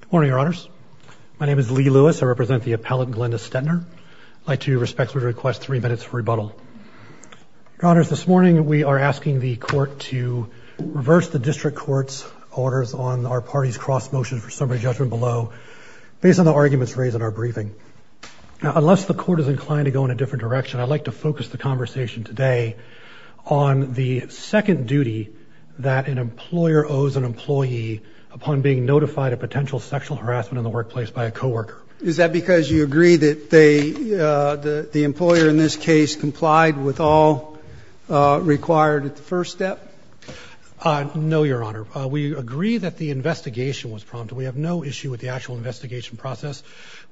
Good morning, Your Honors. My name is Lee Lewis. I represent the appellant, Glenda Stetner. I'd like to respectfully request three minutes for rebuttal. Your Honors, this morning we are asking the Court to reverse the District Court's orders on our party's cross-motion for summary judgment below, based on the arguments raised in our briefing. Now, unless the Court is inclined to go in a different direction, I'd like to focus the conversation today on the second duty that an employer owes an employee upon being notified of potential sexual harassment in the workplace by a co-worker. Is that because you agree that the employer in this case complied with all required at the first step? No, Your Honor. We agree that the investigation was prompted. We have no issue with the actual investigation process.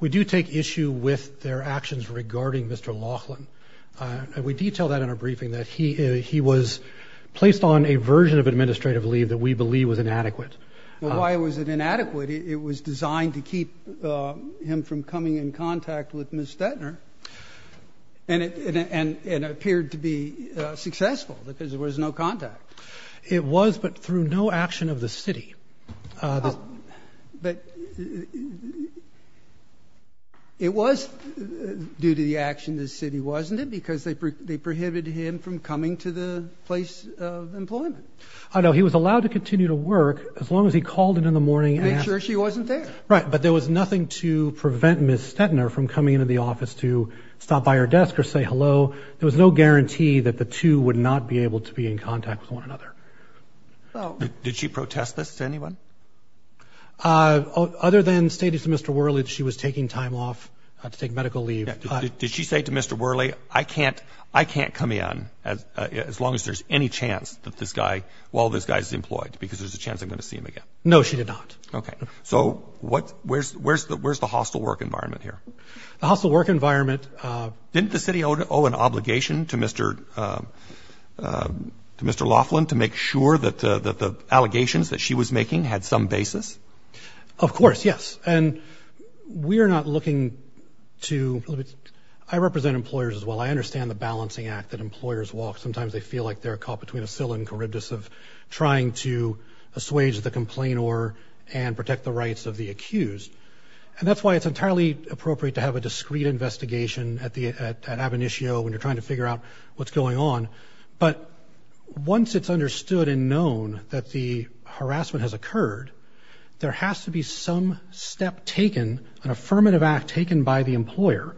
We do take issue with their actions regarding Mr. Laughlin, and we detail that in our briefing, that he was placed on a version of administrative leave that we believe was inadequate. Well, why was it inadequate? It was designed to keep him from coming in contact with Ms. Stetner, and it appeared to be successful because there was no contact. It was, but through no action of the City. But it was due to the action of the City, wasn't it, because they prohibited him from coming to the place of employment? I know. He was allowed to continue to work as long as he called in in the morning. To make sure she wasn't there. Right, but there was nothing to prevent Ms. Stetner from coming into the office to stop by her desk or say hello. There was no guarantee that the two would not be able to be in contact with one another. Did she protest this to anyone? Other than stating to Mr. Worley that she was taking time off to take medical leave. Did she say to Mr. Worley, I can't come in as long as there's any chance that this guy, while this guy's employed, because there's a chance I'm going to see him again? No, she did not. Okay. So where's the hostile work environment here? The hostile work environment. Didn't the City owe an obligation to Mr. Laughlin to make sure that the allegations that she was making had some basis? Of course, yes. And we're not looking to – I represent employers as well. I understand the balancing act that employers walk. Sometimes they feel like they're caught between a sill and charybdis of trying to assuage the complainer and protect the rights of the accused. And that's why it's entirely appropriate to have a discrete investigation at Ab initio when you're trying to figure out what's going on. But once it's understood and known that the harassment has occurred, there has to be some step taken, an affirmative act taken by the employer,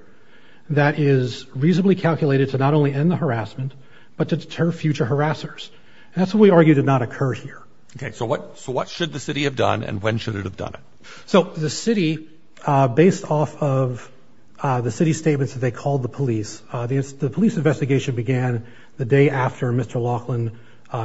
that is reasonably calculated to not only end the harassment but to deter future harassers. And that's what we argue did not occur here. Okay. So what should the City have done and when should it have done it? So the City, based off of the City's statements that they called the police, the police investigation began the day after Mr. Laughlin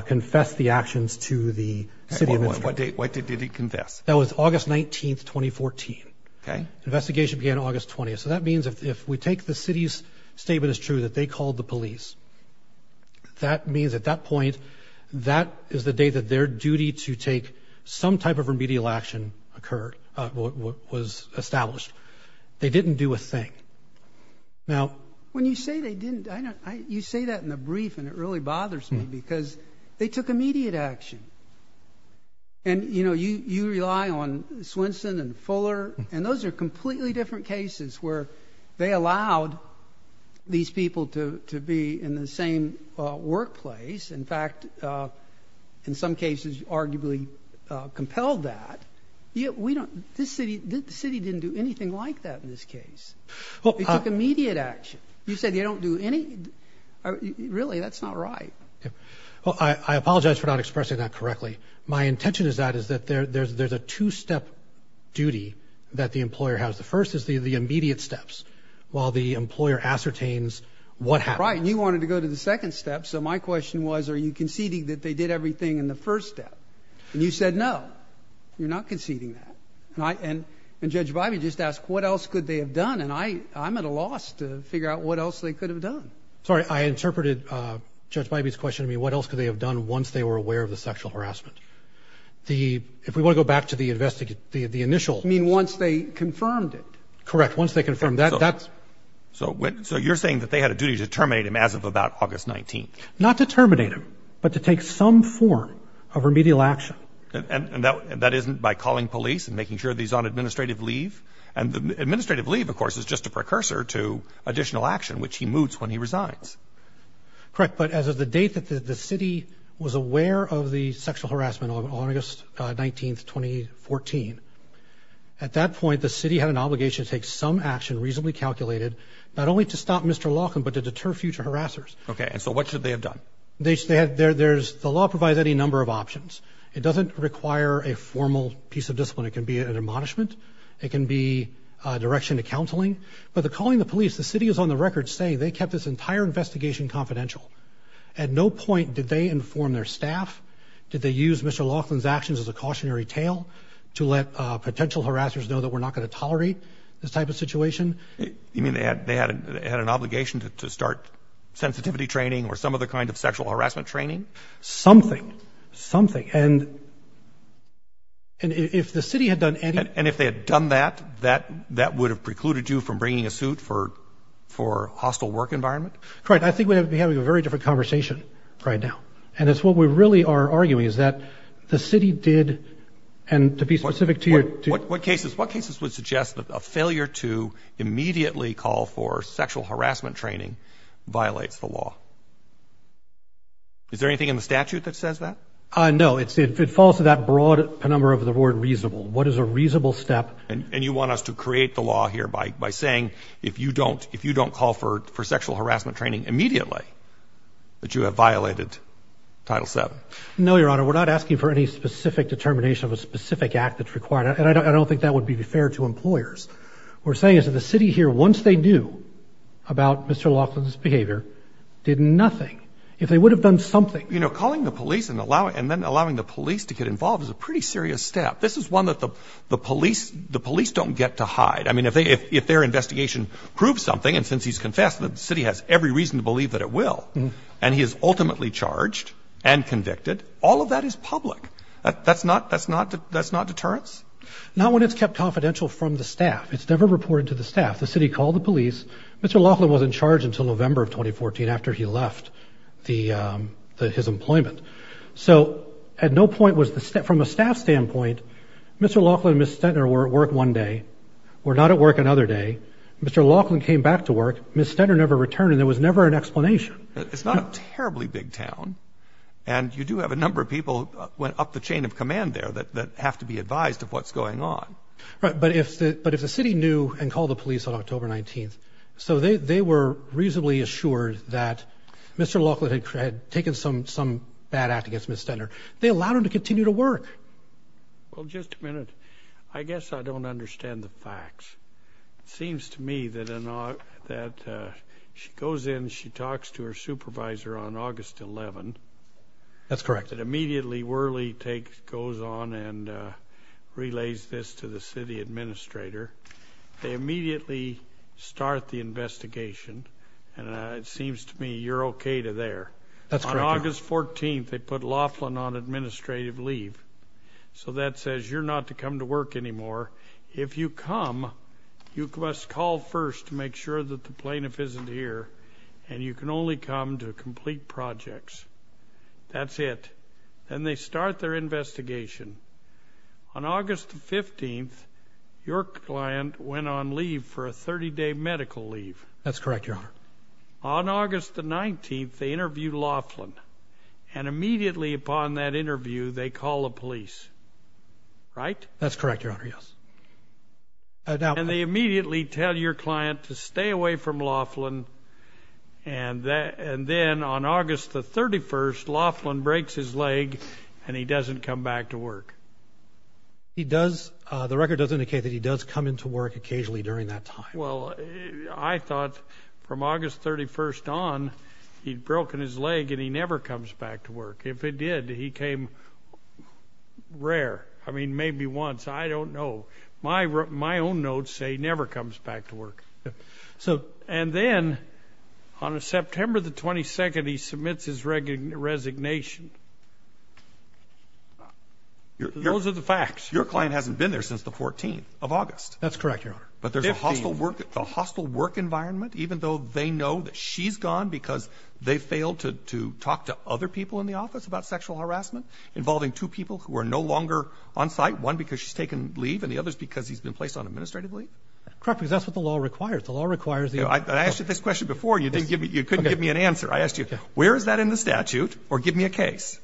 confessed the actions to the City Administrator. What date did he confess? That was August 19th, 2014. Okay. Investigation began August 20th. So that means if we take the City's statement as true that they called the police, that means at that point that is the day that their duty to take some type of remedial action occurred, was established. They didn't do a thing. Now, when you say they didn't, you say that in the brief and it really bothers me because they took immediate action. And, you know, you rely on Swinson and Fuller, and those are completely different cases where they allowed these people to be in the same workplace. In fact, in some cases arguably compelled that. The City didn't do anything like that in this case. They took immediate action. You said they don't do any? Really, that's not right. Well, I apologize for not expressing that correctly. My intention is that is that there's a two-step duty that the employer has. The first is the immediate steps while the employer ascertains what happened. Right, and you wanted to go to the second step, so my question was are you conceding that they did everything in the first step? And you said no, you're not conceding that. And Judge Bybee just asked what else could they have done, and I'm at a loss to figure out what else they could have done. Sorry, I interpreted Judge Bybee's question. I mean, what else could they have done once they were aware of the sexual harassment? If we want to go back to the initials. You mean once they confirmed it? Correct, once they confirmed it. So you're saying that they had a duty to terminate him as of about August 19th? Not to terminate him, but to take some form of remedial action. And that isn't by calling police and making sure that he's on administrative leave? And administrative leave, of course, is just a precursor to additional action, which he moots when he resigns. Correct, but as of the date that the city was aware of the sexual harassment, August 19th, 2014, at that point the city had an obligation to take some action reasonably calculated not only to stop Mr. Laughlin, but to deter future harassers. Okay, and so what should they have done? The law provides any number of options. It doesn't require a formal piece of discipline. It can be an admonishment. It can be direction to counseling. But the calling the police, the city is on the record saying they kept this entire investigation confidential. At no point did they inform their staff, did they use Mr. Laughlin's actions as a cautionary tale to let potential harassers know that we're not going to tolerate this type of situation? You mean they had an obligation to start sensitivity training or some other kind of sexual harassment training? Something, something. And if the city had done any... And if they had done that, that would have precluded you from bringing a suit for hostile work environment? Right, I think we'd be having a very different conversation right now. And it's what we really are arguing is that the city did, and to be specific to your... What cases would suggest that a failure to immediately call for sexual harassment training violates the law? Is there anything in the statute that says that? No, it falls to that broad number of the word reasonable. What is a reasonable step? And you want us to create the law here by saying if you don't call for sexual harassment training immediately, that you have violated Title VII? No, Your Honor, we're not asking for any specific determination of a specific act that's required. And I don't think that would be fair to employers. What we're saying is that the city here, once they knew about Mr. Laughlin's behavior, did nothing. If they would have done something... You know, calling the police and then allowing the police to get involved is a pretty serious step. This is one that the police don't get to hide. I mean, if their investigation proves something, and since he's confessed, the city has every reason to believe that it will. And he is ultimately charged and convicted. All of that is public. That's not deterrence? Not when it's kept confidential from the staff. It's never reported to the staff. The city called the police. Mr. Laughlin wasn't charged until November of 2014 after he left his employment. So from a staff standpoint, Mr. Laughlin and Ms. Stentner were at work one day, were not at work another day. Mr. Laughlin came back to work. Ms. Stentner never returned, and there was never an explanation. It's not a terribly big town, and you do have a number of people who went up the chain of command there that have to be advised of what's going on. But if the city knew and called the police on October 19th, so they were reasonably assured that Mr. Laughlin had taken some bad act against Ms. Stentner. They allowed him to continue to work. Well, just a minute. I guess I don't understand the facts. It seems to me that she goes in, she talks to her supervisor on August 11th. That's correct. And immediately Worley goes on and relays this to the city administrator. They immediately start the investigation, and it seems to me you're okay to there. That's correct. On August 14th, they put Laughlin on administrative leave. So that says you're not to come to work anymore. If you come, you must call first to make sure that the plaintiff isn't here, and you can only come to complete projects. That's it. Then they start their investigation. On August 15th, your client went on leave for a 30-day medical leave. That's correct, Your Honor. On August 19th, they interviewed Laughlin, and immediately upon that interview, they call the police, right? That's correct, Your Honor, yes. And they immediately tell your client to stay away from Laughlin, and then on August 31st, Laughlin breaks his leg and he doesn't come back to work. The record does indicate that he does come into work occasionally during that time. Well, I thought from August 31st on, he'd broken his leg and he never comes back to work. If he did, he came rare. I mean, maybe once. I don't know. My own notes say he never comes back to work. And then on September 22nd, he submits his resignation. Those are the facts. Your client hasn't been there since the 14th of August. That's correct, Your Honor. But there's a hostile work environment even though they know that she's gone because they failed to talk to other people in the office about sexual harassment involving two people who are no longer on site, one because she's taken leave and the other is because he's been placed on administrative leave? Correct, because that's what the law requires. The law requires the- I asked you this question before and you couldn't give me an answer. I asked you, where is that in the statute? Or give me a case.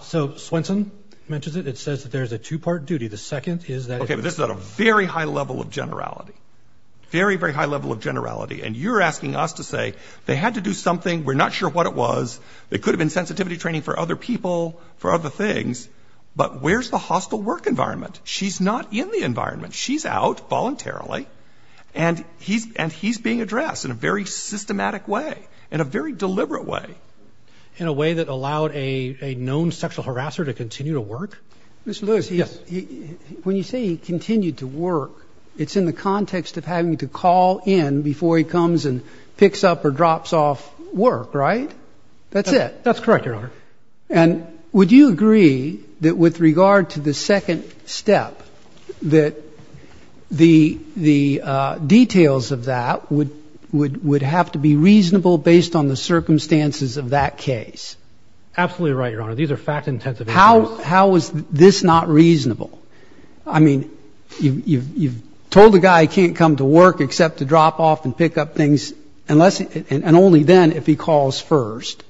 So Swenson mentions it. It says that there's a two-part duty. The second is that- Okay, but this is at a very high level of generality, very, very high level of generality. And you're asking us to say they had to do something. We're not sure what it was. It could have been sensitivity training for other people, for other things. But where's the hostile work environment? She's not in the environment. She's out voluntarily and he's being addressed in a very systematic way, in a very deliberate way. In a way that allowed a known sexual harasser to continue to work? Mr. Lewis, when you say he continued to work, it's in the context of having to call in before he comes and picks up or drops off work, right? That's it. That's correct, Your Honor. And would you agree that with regard to the second step, that the details of that would have to be reasonable based on the circumstances of that case? Absolutely right, Your Honor. These are fact-intensive issues. How is this not reasonable? I mean, you've told the guy he can't come to work except to drop off and pick up things, and only then if he calls first.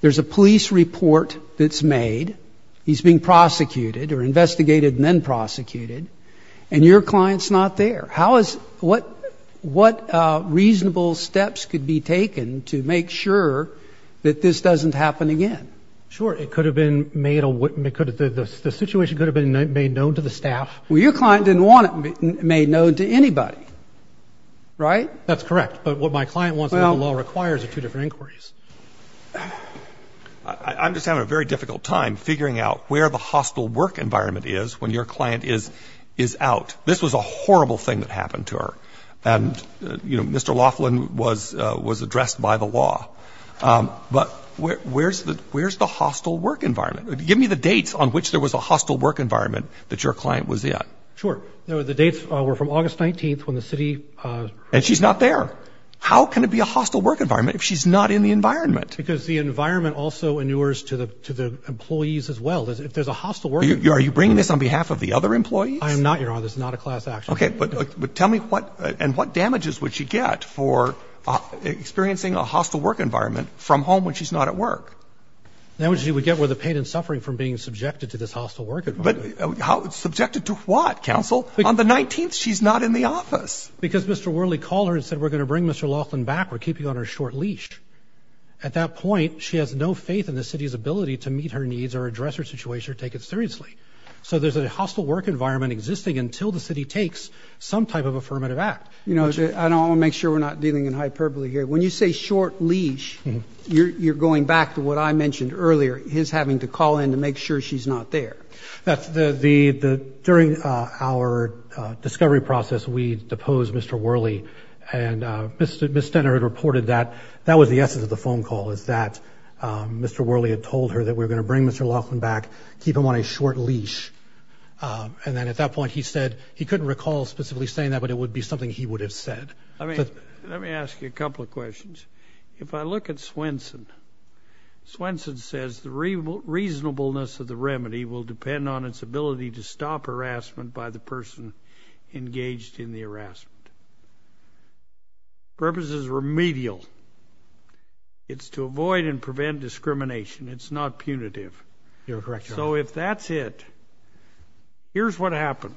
There's a police report that's made. He's being prosecuted or investigated and then prosecuted, and your client's not there. What reasonable steps could be taken to make sure that this doesn't happen again? Sure. It could have been made a witness. The situation could have been made known to the staff. Well, your client didn't want it made known to anybody, right? That's correct. But what my client wants and what the law requires are two different inquiries. I'm just having a very difficult time figuring out where the hostile work environment is when your client is out. This was a horrible thing that happened to her. And, you know, Mr. Laughlin was addressed by the law. But where's the hostile work environment? Give me the dates on which there was a hostile work environment that your client was in. Sure. The dates were from August 19th when the city— And she's not there. How can it be a hostile work environment if she's not in the environment? Because the environment also inures to the employees as well. If there's a hostile work— Are you bringing this on behalf of the other employees? I am not, Your Honor. This is not a class action. Okay. But tell me what damages would she get for experiencing a hostile work environment from home when she's not at work? Damages she would get were the pain and suffering from being subjected to this hostile work environment. Subjected to what, counsel? On the 19th, she's not in the office. Because Mr. Worley called her and said, we're going to bring Mr. Laughlin back. We're keeping on her short leash. At that point, she has no faith in the city's ability to meet her needs or address her situation or take it seriously. So there's a hostile work environment existing until the city takes some type of affirmative act. You know, I want to make sure we're not dealing in hyperbole here. When you say short leash, you're going back to what I mentioned earlier, his having to call in to make sure she's not there. During our discovery process, we deposed Mr. Worley. And Ms. Stenner had reported that that was the essence of the phone call, is that Mr. Worley had told her that we were going to bring Mr. Laughlin back, keep him on a short leash. And then at that point, he said he couldn't recall specifically saying that, but it would be something he would have said. Let me ask you a couple of questions. If I look at Swenson, Swenson says the reasonableness of the remedy will depend on its ability to stop harassment by the person engaged in the harassment. The purpose is remedial. It's to avoid and prevent discrimination. It's not punitive. So if that's it, here's what happened.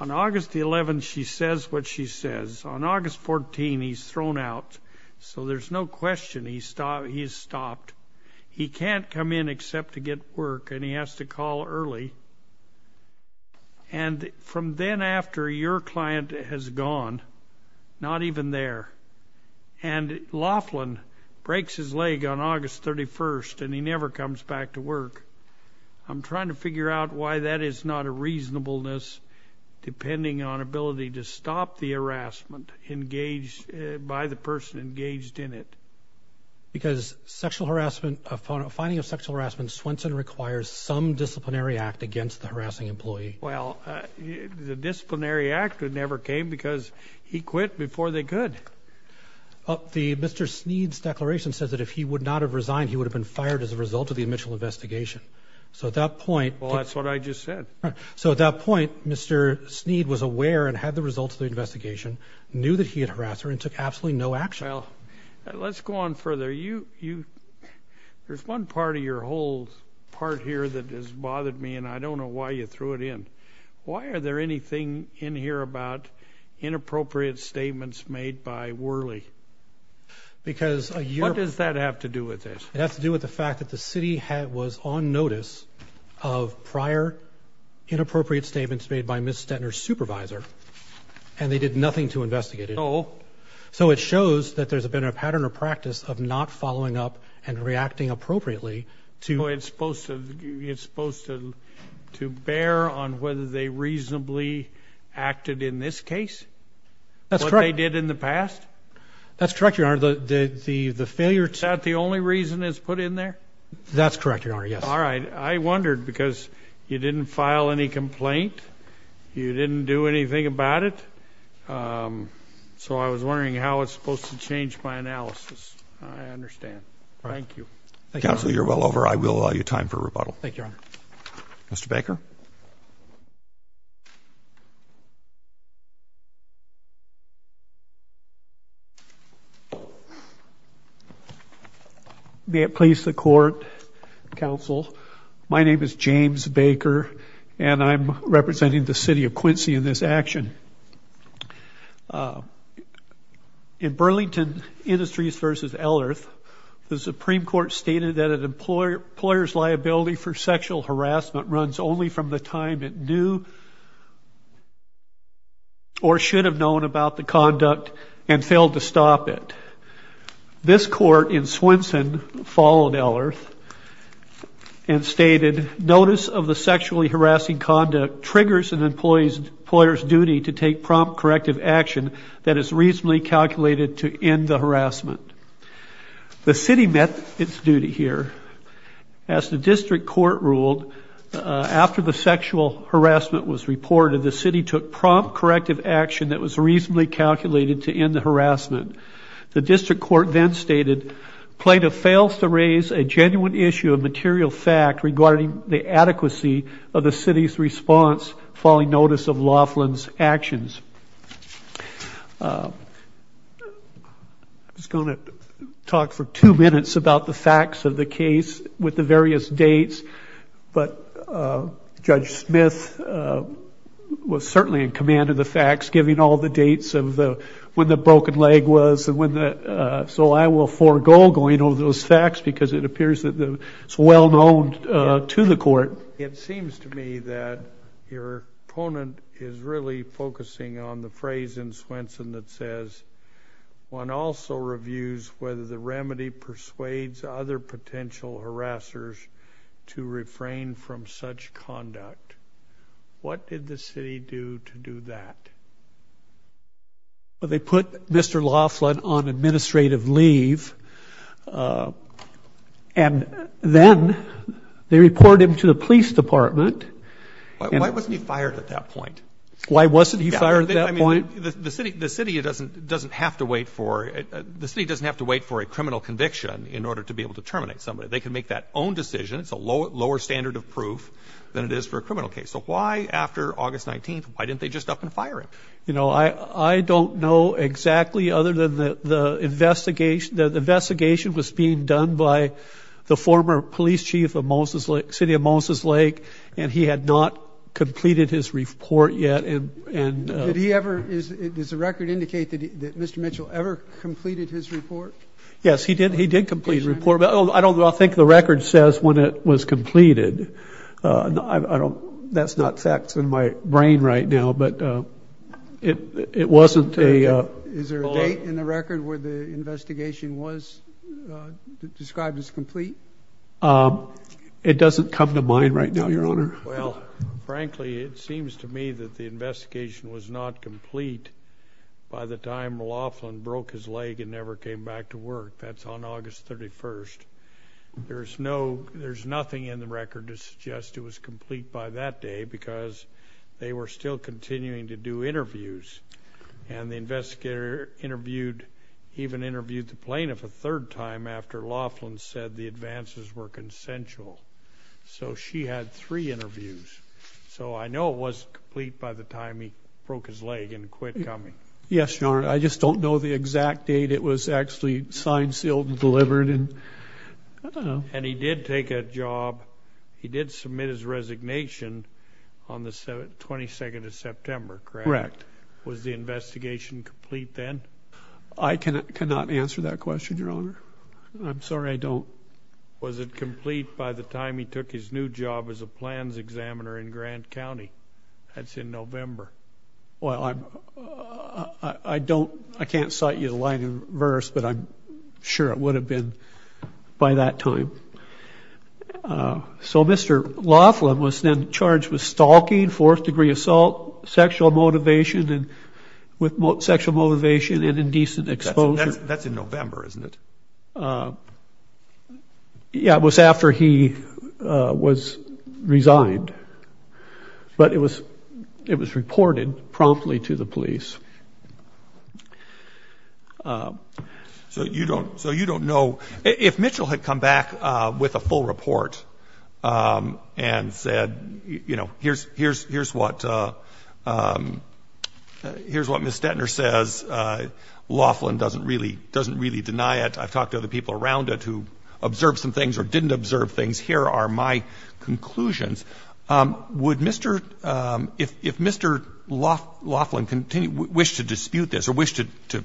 On August 11, she says what she says. On August 14, he's thrown out, so there's no question he's stopped. He can't come in except to get work, and he has to call early. And from then after, your client has gone, not even there. And Laughlin breaks his leg on August 31, and he never comes back to work. I'm trying to figure out why that is not a reasonableness depending on ability to stop the harassment engaged by the person engaged in it. Because finding of sexual harassment, Swenson requires some disciplinary act against the harassing employee. Well, the disciplinary act never came because he quit before they could. Mr. Sneed's declaration says that if he would not have resigned, he would have been fired as a result of the initial investigation. So at that point — Well, that's what I just said. So at that point, Mr. Sneed was aware and had the results of the investigation, knew that he had harassed her, and took absolutely no action. Well, let's go on further. There's one part of your whole part here that has bothered me, and I don't know why you threw it in. Why are there anything in here about inappropriate statements made by Worley? Because a year — What does that have to do with this? It has to do with the fact that the city was on notice of prior inappropriate statements made by Ms. Stettner's supervisor, and they did nothing to investigate it. No. So it shows that there's been a pattern or practice of not following up and reacting appropriately to — That's correct. — what they did in the past? That's correct, Your Honor. The failure to — Is that the only reason it's put in there? That's correct, Your Honor, yes. All right. I wondered, because you didn't file any complaint. You didn't do anything about it. So I was wondering how it's supposed to change my analysis. I understand. Thank you. Counsel, you're well over. I will allow you time for rebuttal. Thank you, Your Honor. Mr. Baker? May it please the Court, Counsel, my name is James Baker, and I'm representing the city of Quincy in this action. In Burlington Industries v. Ellerth, the Supreme Court stated that an employer's liability for sexual harassment runs only from the time it knew or should have known about the conduct and failed to stop it. This court in Swenson followed Ellerth and stated, Notice of the sexually harassing conduct triggers an employer's duty to take prompt corrective action that is reasonably calculated to end the harassment. The city met its duty here. As the district court ruled, after the sexual harassment was reported, the city took prompt corrective action that was reasonably calculated to end the harassment. The district court then stated, Plaintiff fails to raise a genuine issue of material fact regarding the adequacy of the city's response following notice of Laughlin's actions. I'm just going to talk for two minutes about the facts of the case with the various dates. But Judge Smith was certainly in command of the facts, giving all the dates of when the broken leg was. So I will forego going over those facts because it appears that it's well known to the court. It seems to me that your opponent is really focusing on the phrase in Swenson that says one also reviews whether the remedy persuades other potential harassers to refrain from such conduct. What did the city do to do that? Well, they put Mr. Laughlin on administrative leave, and then they report him to the police department. Why wasn't he fired at that point? Why wasn't he fired at that point? The city doesn't have to wait for a criminal conviction in order to be able to terminate somebody. They can make that own decision. It's a lower standard of proof than it is for a criminal case. So why, after August 19th, why didn't they just up and fire him? You know, I don't know exactly other than the investigation was being done by the former police chief of City of Moses Lake, and he had not completed his report yet. Did he ever – does the record indicate that Mr. Mitchell ever completed his report? I think the record says when it was completed. That's not facts in my brain right now, but it wasn't a – Is there a date in the record where the investigation was described as complete? It doesn't come to mind right now, Your Honor. Well, frankly, it seems to me that the investigation was not complete by the time Laughlin broke his leg and never came back to work. That's on August 31st. There's no – there's nothing in the record to suggest it was complete by that day because they were still continuing to do interviews, and the investigator interviewed – even interviewed the plaintiff a third time after Laughlin said the advances were consensual. So she had three interviews. So I know it wasn't complete by the time he broke his leg and quit coming. Yes, Your Honor, I just don't know the exact date it was actually signed, sealed, and delivered, and I don't know. And he did take a job – he did submit his resignation on the 22nd of September, correct? Correct. Was the investigation complete then? I cannot answer that question, Your Honor. I'm sorry, I don't – Was it complete by the time he took his new job as a plans examiner in Grant County? That's in November. Well, I don't – I can't cite you the line in verse, but I'm sure it would have been by that time. So Mr. Laughlin was then charged with stalking, fourth-degree assault, sexual motivation and – with sexual motivation and indecent exposure. That's in November, isn't it? Yeah, it was after he was resigned. But it was reported promptly to the police. So you don't – so you don't know – if Mitchell had come back with a full report and said, you know, Here's what – here's what Ms. Stettner says. Laughlin doesn't really – doesn't really deny it. I've talked to other people around it who observed some things or didn't observe things. Here are my conclusions. Would Mr. – if Mr. Laughlin wished to dispute this or wished to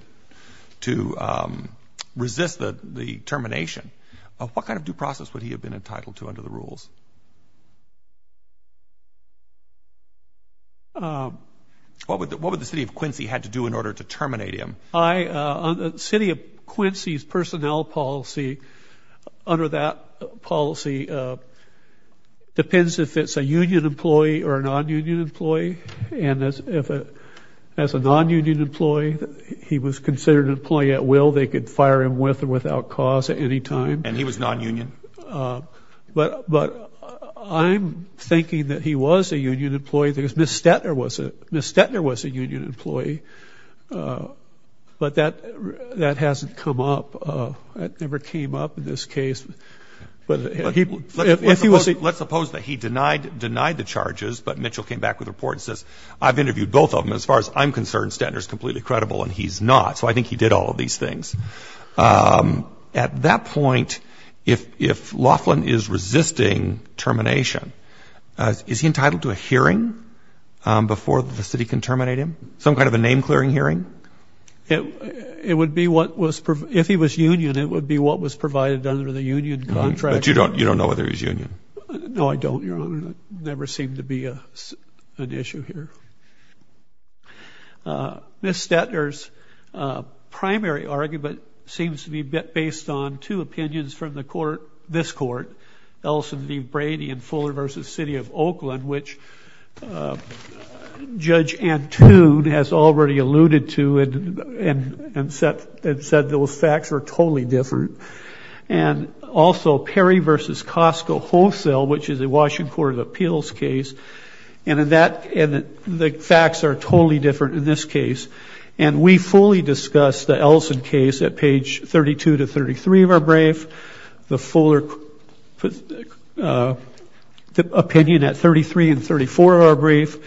resist the termination, what kind of due process would he have been entitled to under the rules? What would the city of Quincy had to do in order to terminate him? I – city of Quincy's personnel policy, under that policy, depends if it's a union employee or a non-union employee. And as a non-union employee, he was considered an employee at will. They could fire him with or without cause at any time. And he was non-union? But I'm thinking that he was a union employee because Ms. Stettner was a – Ms. Stettner was a union employee. But that hasn't come up. It never came up in this case. Let's suppose that he denied the charges, but Mitchell came back with a report and says, I've interviewed both of them. As far as I'm concerned, Stettner's completely credible and he's not. So I think he did all of these things. At that point, if Laughlin is resisting termination, is he entitled to a hearing before the city can terminate him, some kind of a name-clearing hearing? It would be what was – if he was union, it would be what was provided under the union contract. But you don't know whether he's union? No, I don't, Your Honor. It never seemed to be an issue here. Ms. Stettner's primary argument seems to be based on two opinions from the court – this court, Ellison v. Brady and Fuller v. City of Oakland, which Judge Antoon has already alluded to and said those facts are totally different. And also Perry v. Costco Wholesale, which is a Washington Court of Appeals case, and the facts are totally different in this case. And we fully discussed the Ellison case at page 32 to 33 of our brief. The Fuller opinion at 33 and 34 of our brief.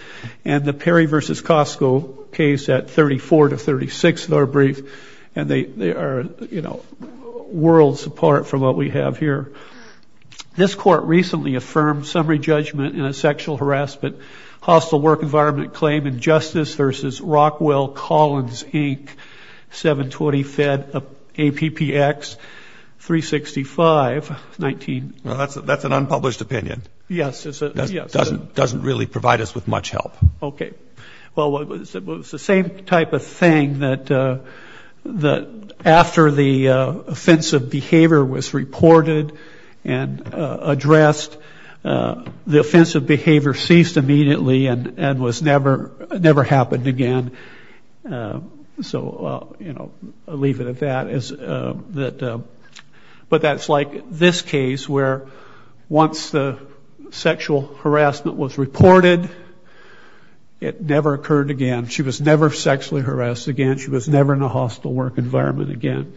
And the Perry v. Costco case at 34 to 36 of our brief. And they are worlds apart from what we have here. This court recently affirmed summary judgment in a sexual harassment hostile work environment claim in Justice v. Rockwell Collins, Inc., 720-Fed APPX-365. Well, that's an unpublished opinion. Yes. It doesn't really provide us with much help. Okay. Well, it was the same type of thing that after the offensive behavior was reported and addressed, the offensive behavior ceased immediately and never happened again. So I'll leave it at that. But that's like this case where once the sexual harassment was reported, it never occurred again. She was never sexually harassed again. She was never in a hostile work environment again.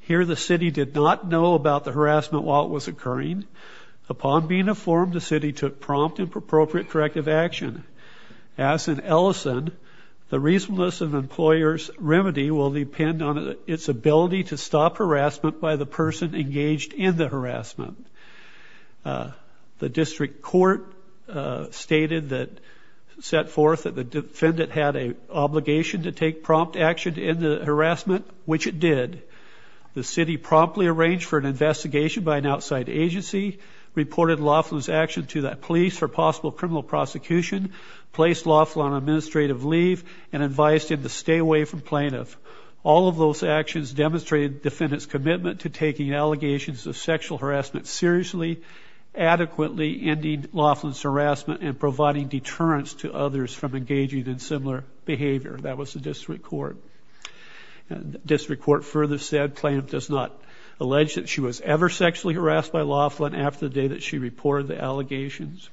Here the city did not know about the harassment while it was occurring. Upon being informed, the city took prompt and appropriate corrective action. As in Ellison, the reasonableness of an employer's remedy will depend on its ability to stop harassment by the person engaged in the harassment. The district court stated that, set forth that the defendant had an obligation to take prompt action to end the harassment, which it did. The city promptly arranged for an investigation by an outside agency, reported Laughlin's action to the police for possible criminal prosecution, placed Laughlin on administrative leave, and advised him to stay away from plaintiff. All of those actions demonstrated the defendant's commitment to taking allegations of sexual harassment seriously, adequately ending Laughlin's harassment and providing deterrence to others from engaging in similar behavior. That was the district court. District court further said plaintiff does not allege that she was ever sexually harassed by Laughlin after the day that she reported the allegations.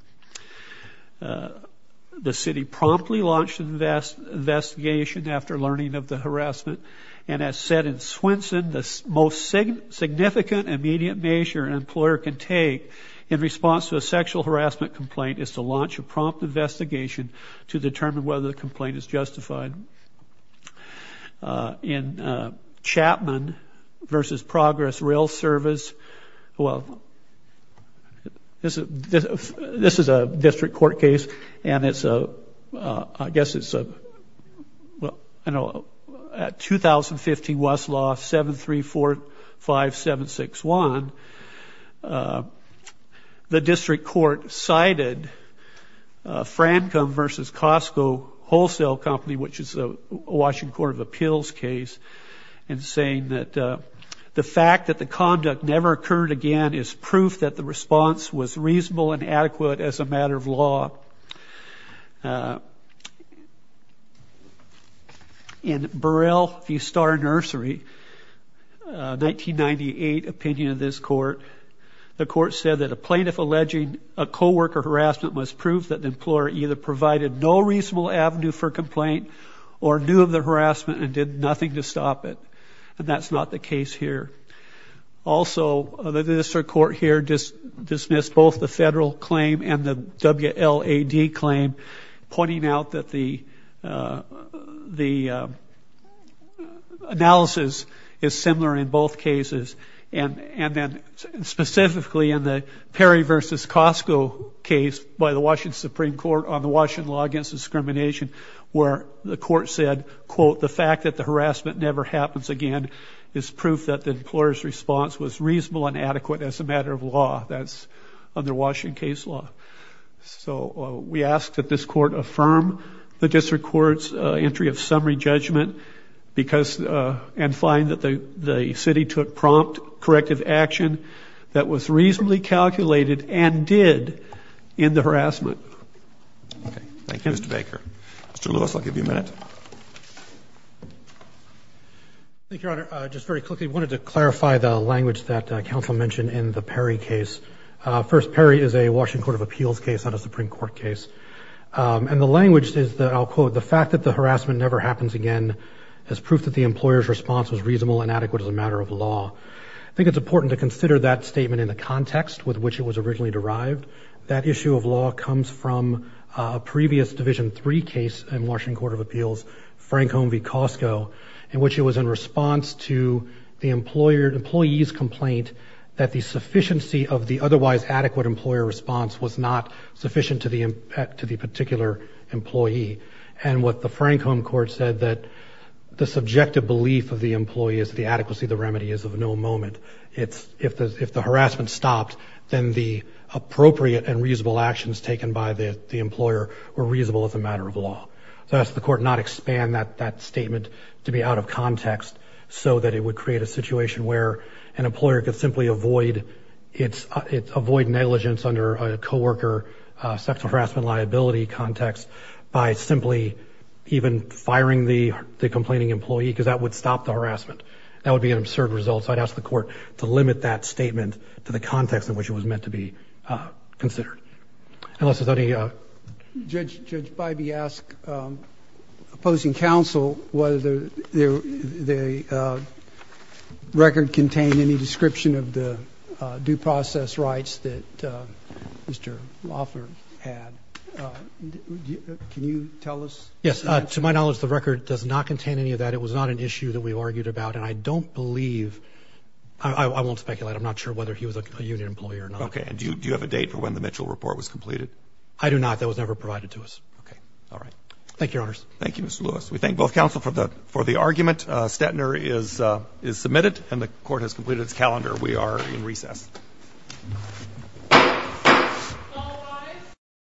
The city promptly launched an investigation after learning of the harassment, and as said in Swenson, the most significant immediate measure an employer can take in response to a sexual harassment complaint is to launch a prompt investigation to determine whether the complaint is justified. In Chapman v. Progress Rail Service, well, this is a district court case, and it's a, I guess it's a, well, I know, at 2015 Westlaw 734-5761, the district court cited Francom v. Costco Wholesale Company, which is a Washington Court of Appeals case, and saying that the fact that the conduct never occurred again is proof that the response was reasonable and adequate as a matter of law. In Burrell v. Star Nursery, 1998 opinion of this court, the court said that a plaintiff alleging a co-worker harassment was proof that the employer either provided no reasonable avenue for complaint or knew of the harassment and did nothing to stop it, and that's not the case here. Also, the district court here dismissed both the federal claim and the WLAD claim, pointing out that the analysis is similar in both cases, and then specifically in the Perry v. Costco case by the Washington Supreme Court on the Washington Law Against Discrimination, where the court said, quote, the fact that the harassment never happens again is proof that the employer's response was reasonable and adequate as a matter of law. That's under Washington case law. So we ask that this court affirm the district court's entry of summary judgment and find that the city took prompt corrective action that was reasonably calculated and did in the harassment. Okay. Thank you, Mr. Baker. Mr. Lewis, I'll give you a minute. Thank you, Your Honor. Just very quickly, I wanted to clarify the language that counsel mentioned in the Perry case. First, Perry is a Washington Court of Appeals case, not a Supreme Court case, and the language is that, I'll quote, the fact that the harassment never happens again is proof that the employer's response was reasonable and adequate as a matter of law. I think it's important to consider that statement in the context with which it was originally derived. That issue of law comes from a previous Division III case in Washington Court of Appeals, Frankholm v. Costco, in which it was in response to the employee's complaint that the sufficiency of the otherwise adequate employer response was not sufficient to the particular employee. And what the Frankholm court said that the subjective belief of the employee is the adequacy of the remedy is of no moment. If the harassment stopped, then the appropriate and reasonable actions taken by the employer were reasonable as a matter of law. So I ask the court not expand that statement to be out of context so that it would create a situation where an employer could simply avoid negligence under a co-worker sexual harassment liability context by simply even firing the complaining employee because that would stop the harassment. That would be an absurd result. So I'd ask the court to limit that statement to the context in which it was meant to be considered. Unless there's any... Judge, Judge Bybee asked opposing counsel whether the record contained any description of the due process rights that Mr. Loeffler had. Can you tell us? Yes. To my knowledge, the record does not contain any of that. It was not an issue that we argued about. And I don't believe... I won't speculate. I'm not sure whether he was a union employer or not. Okay. And do you have a date for when the Mitchell report was completed? I do not. That was never provided to us. Okay. All right. Thank you, Your Honors. Thank you, Mr. Lewis. We thank both counsel for the argument. Stetner is submitted and the court has completed its calendar. We are in recess. All rise.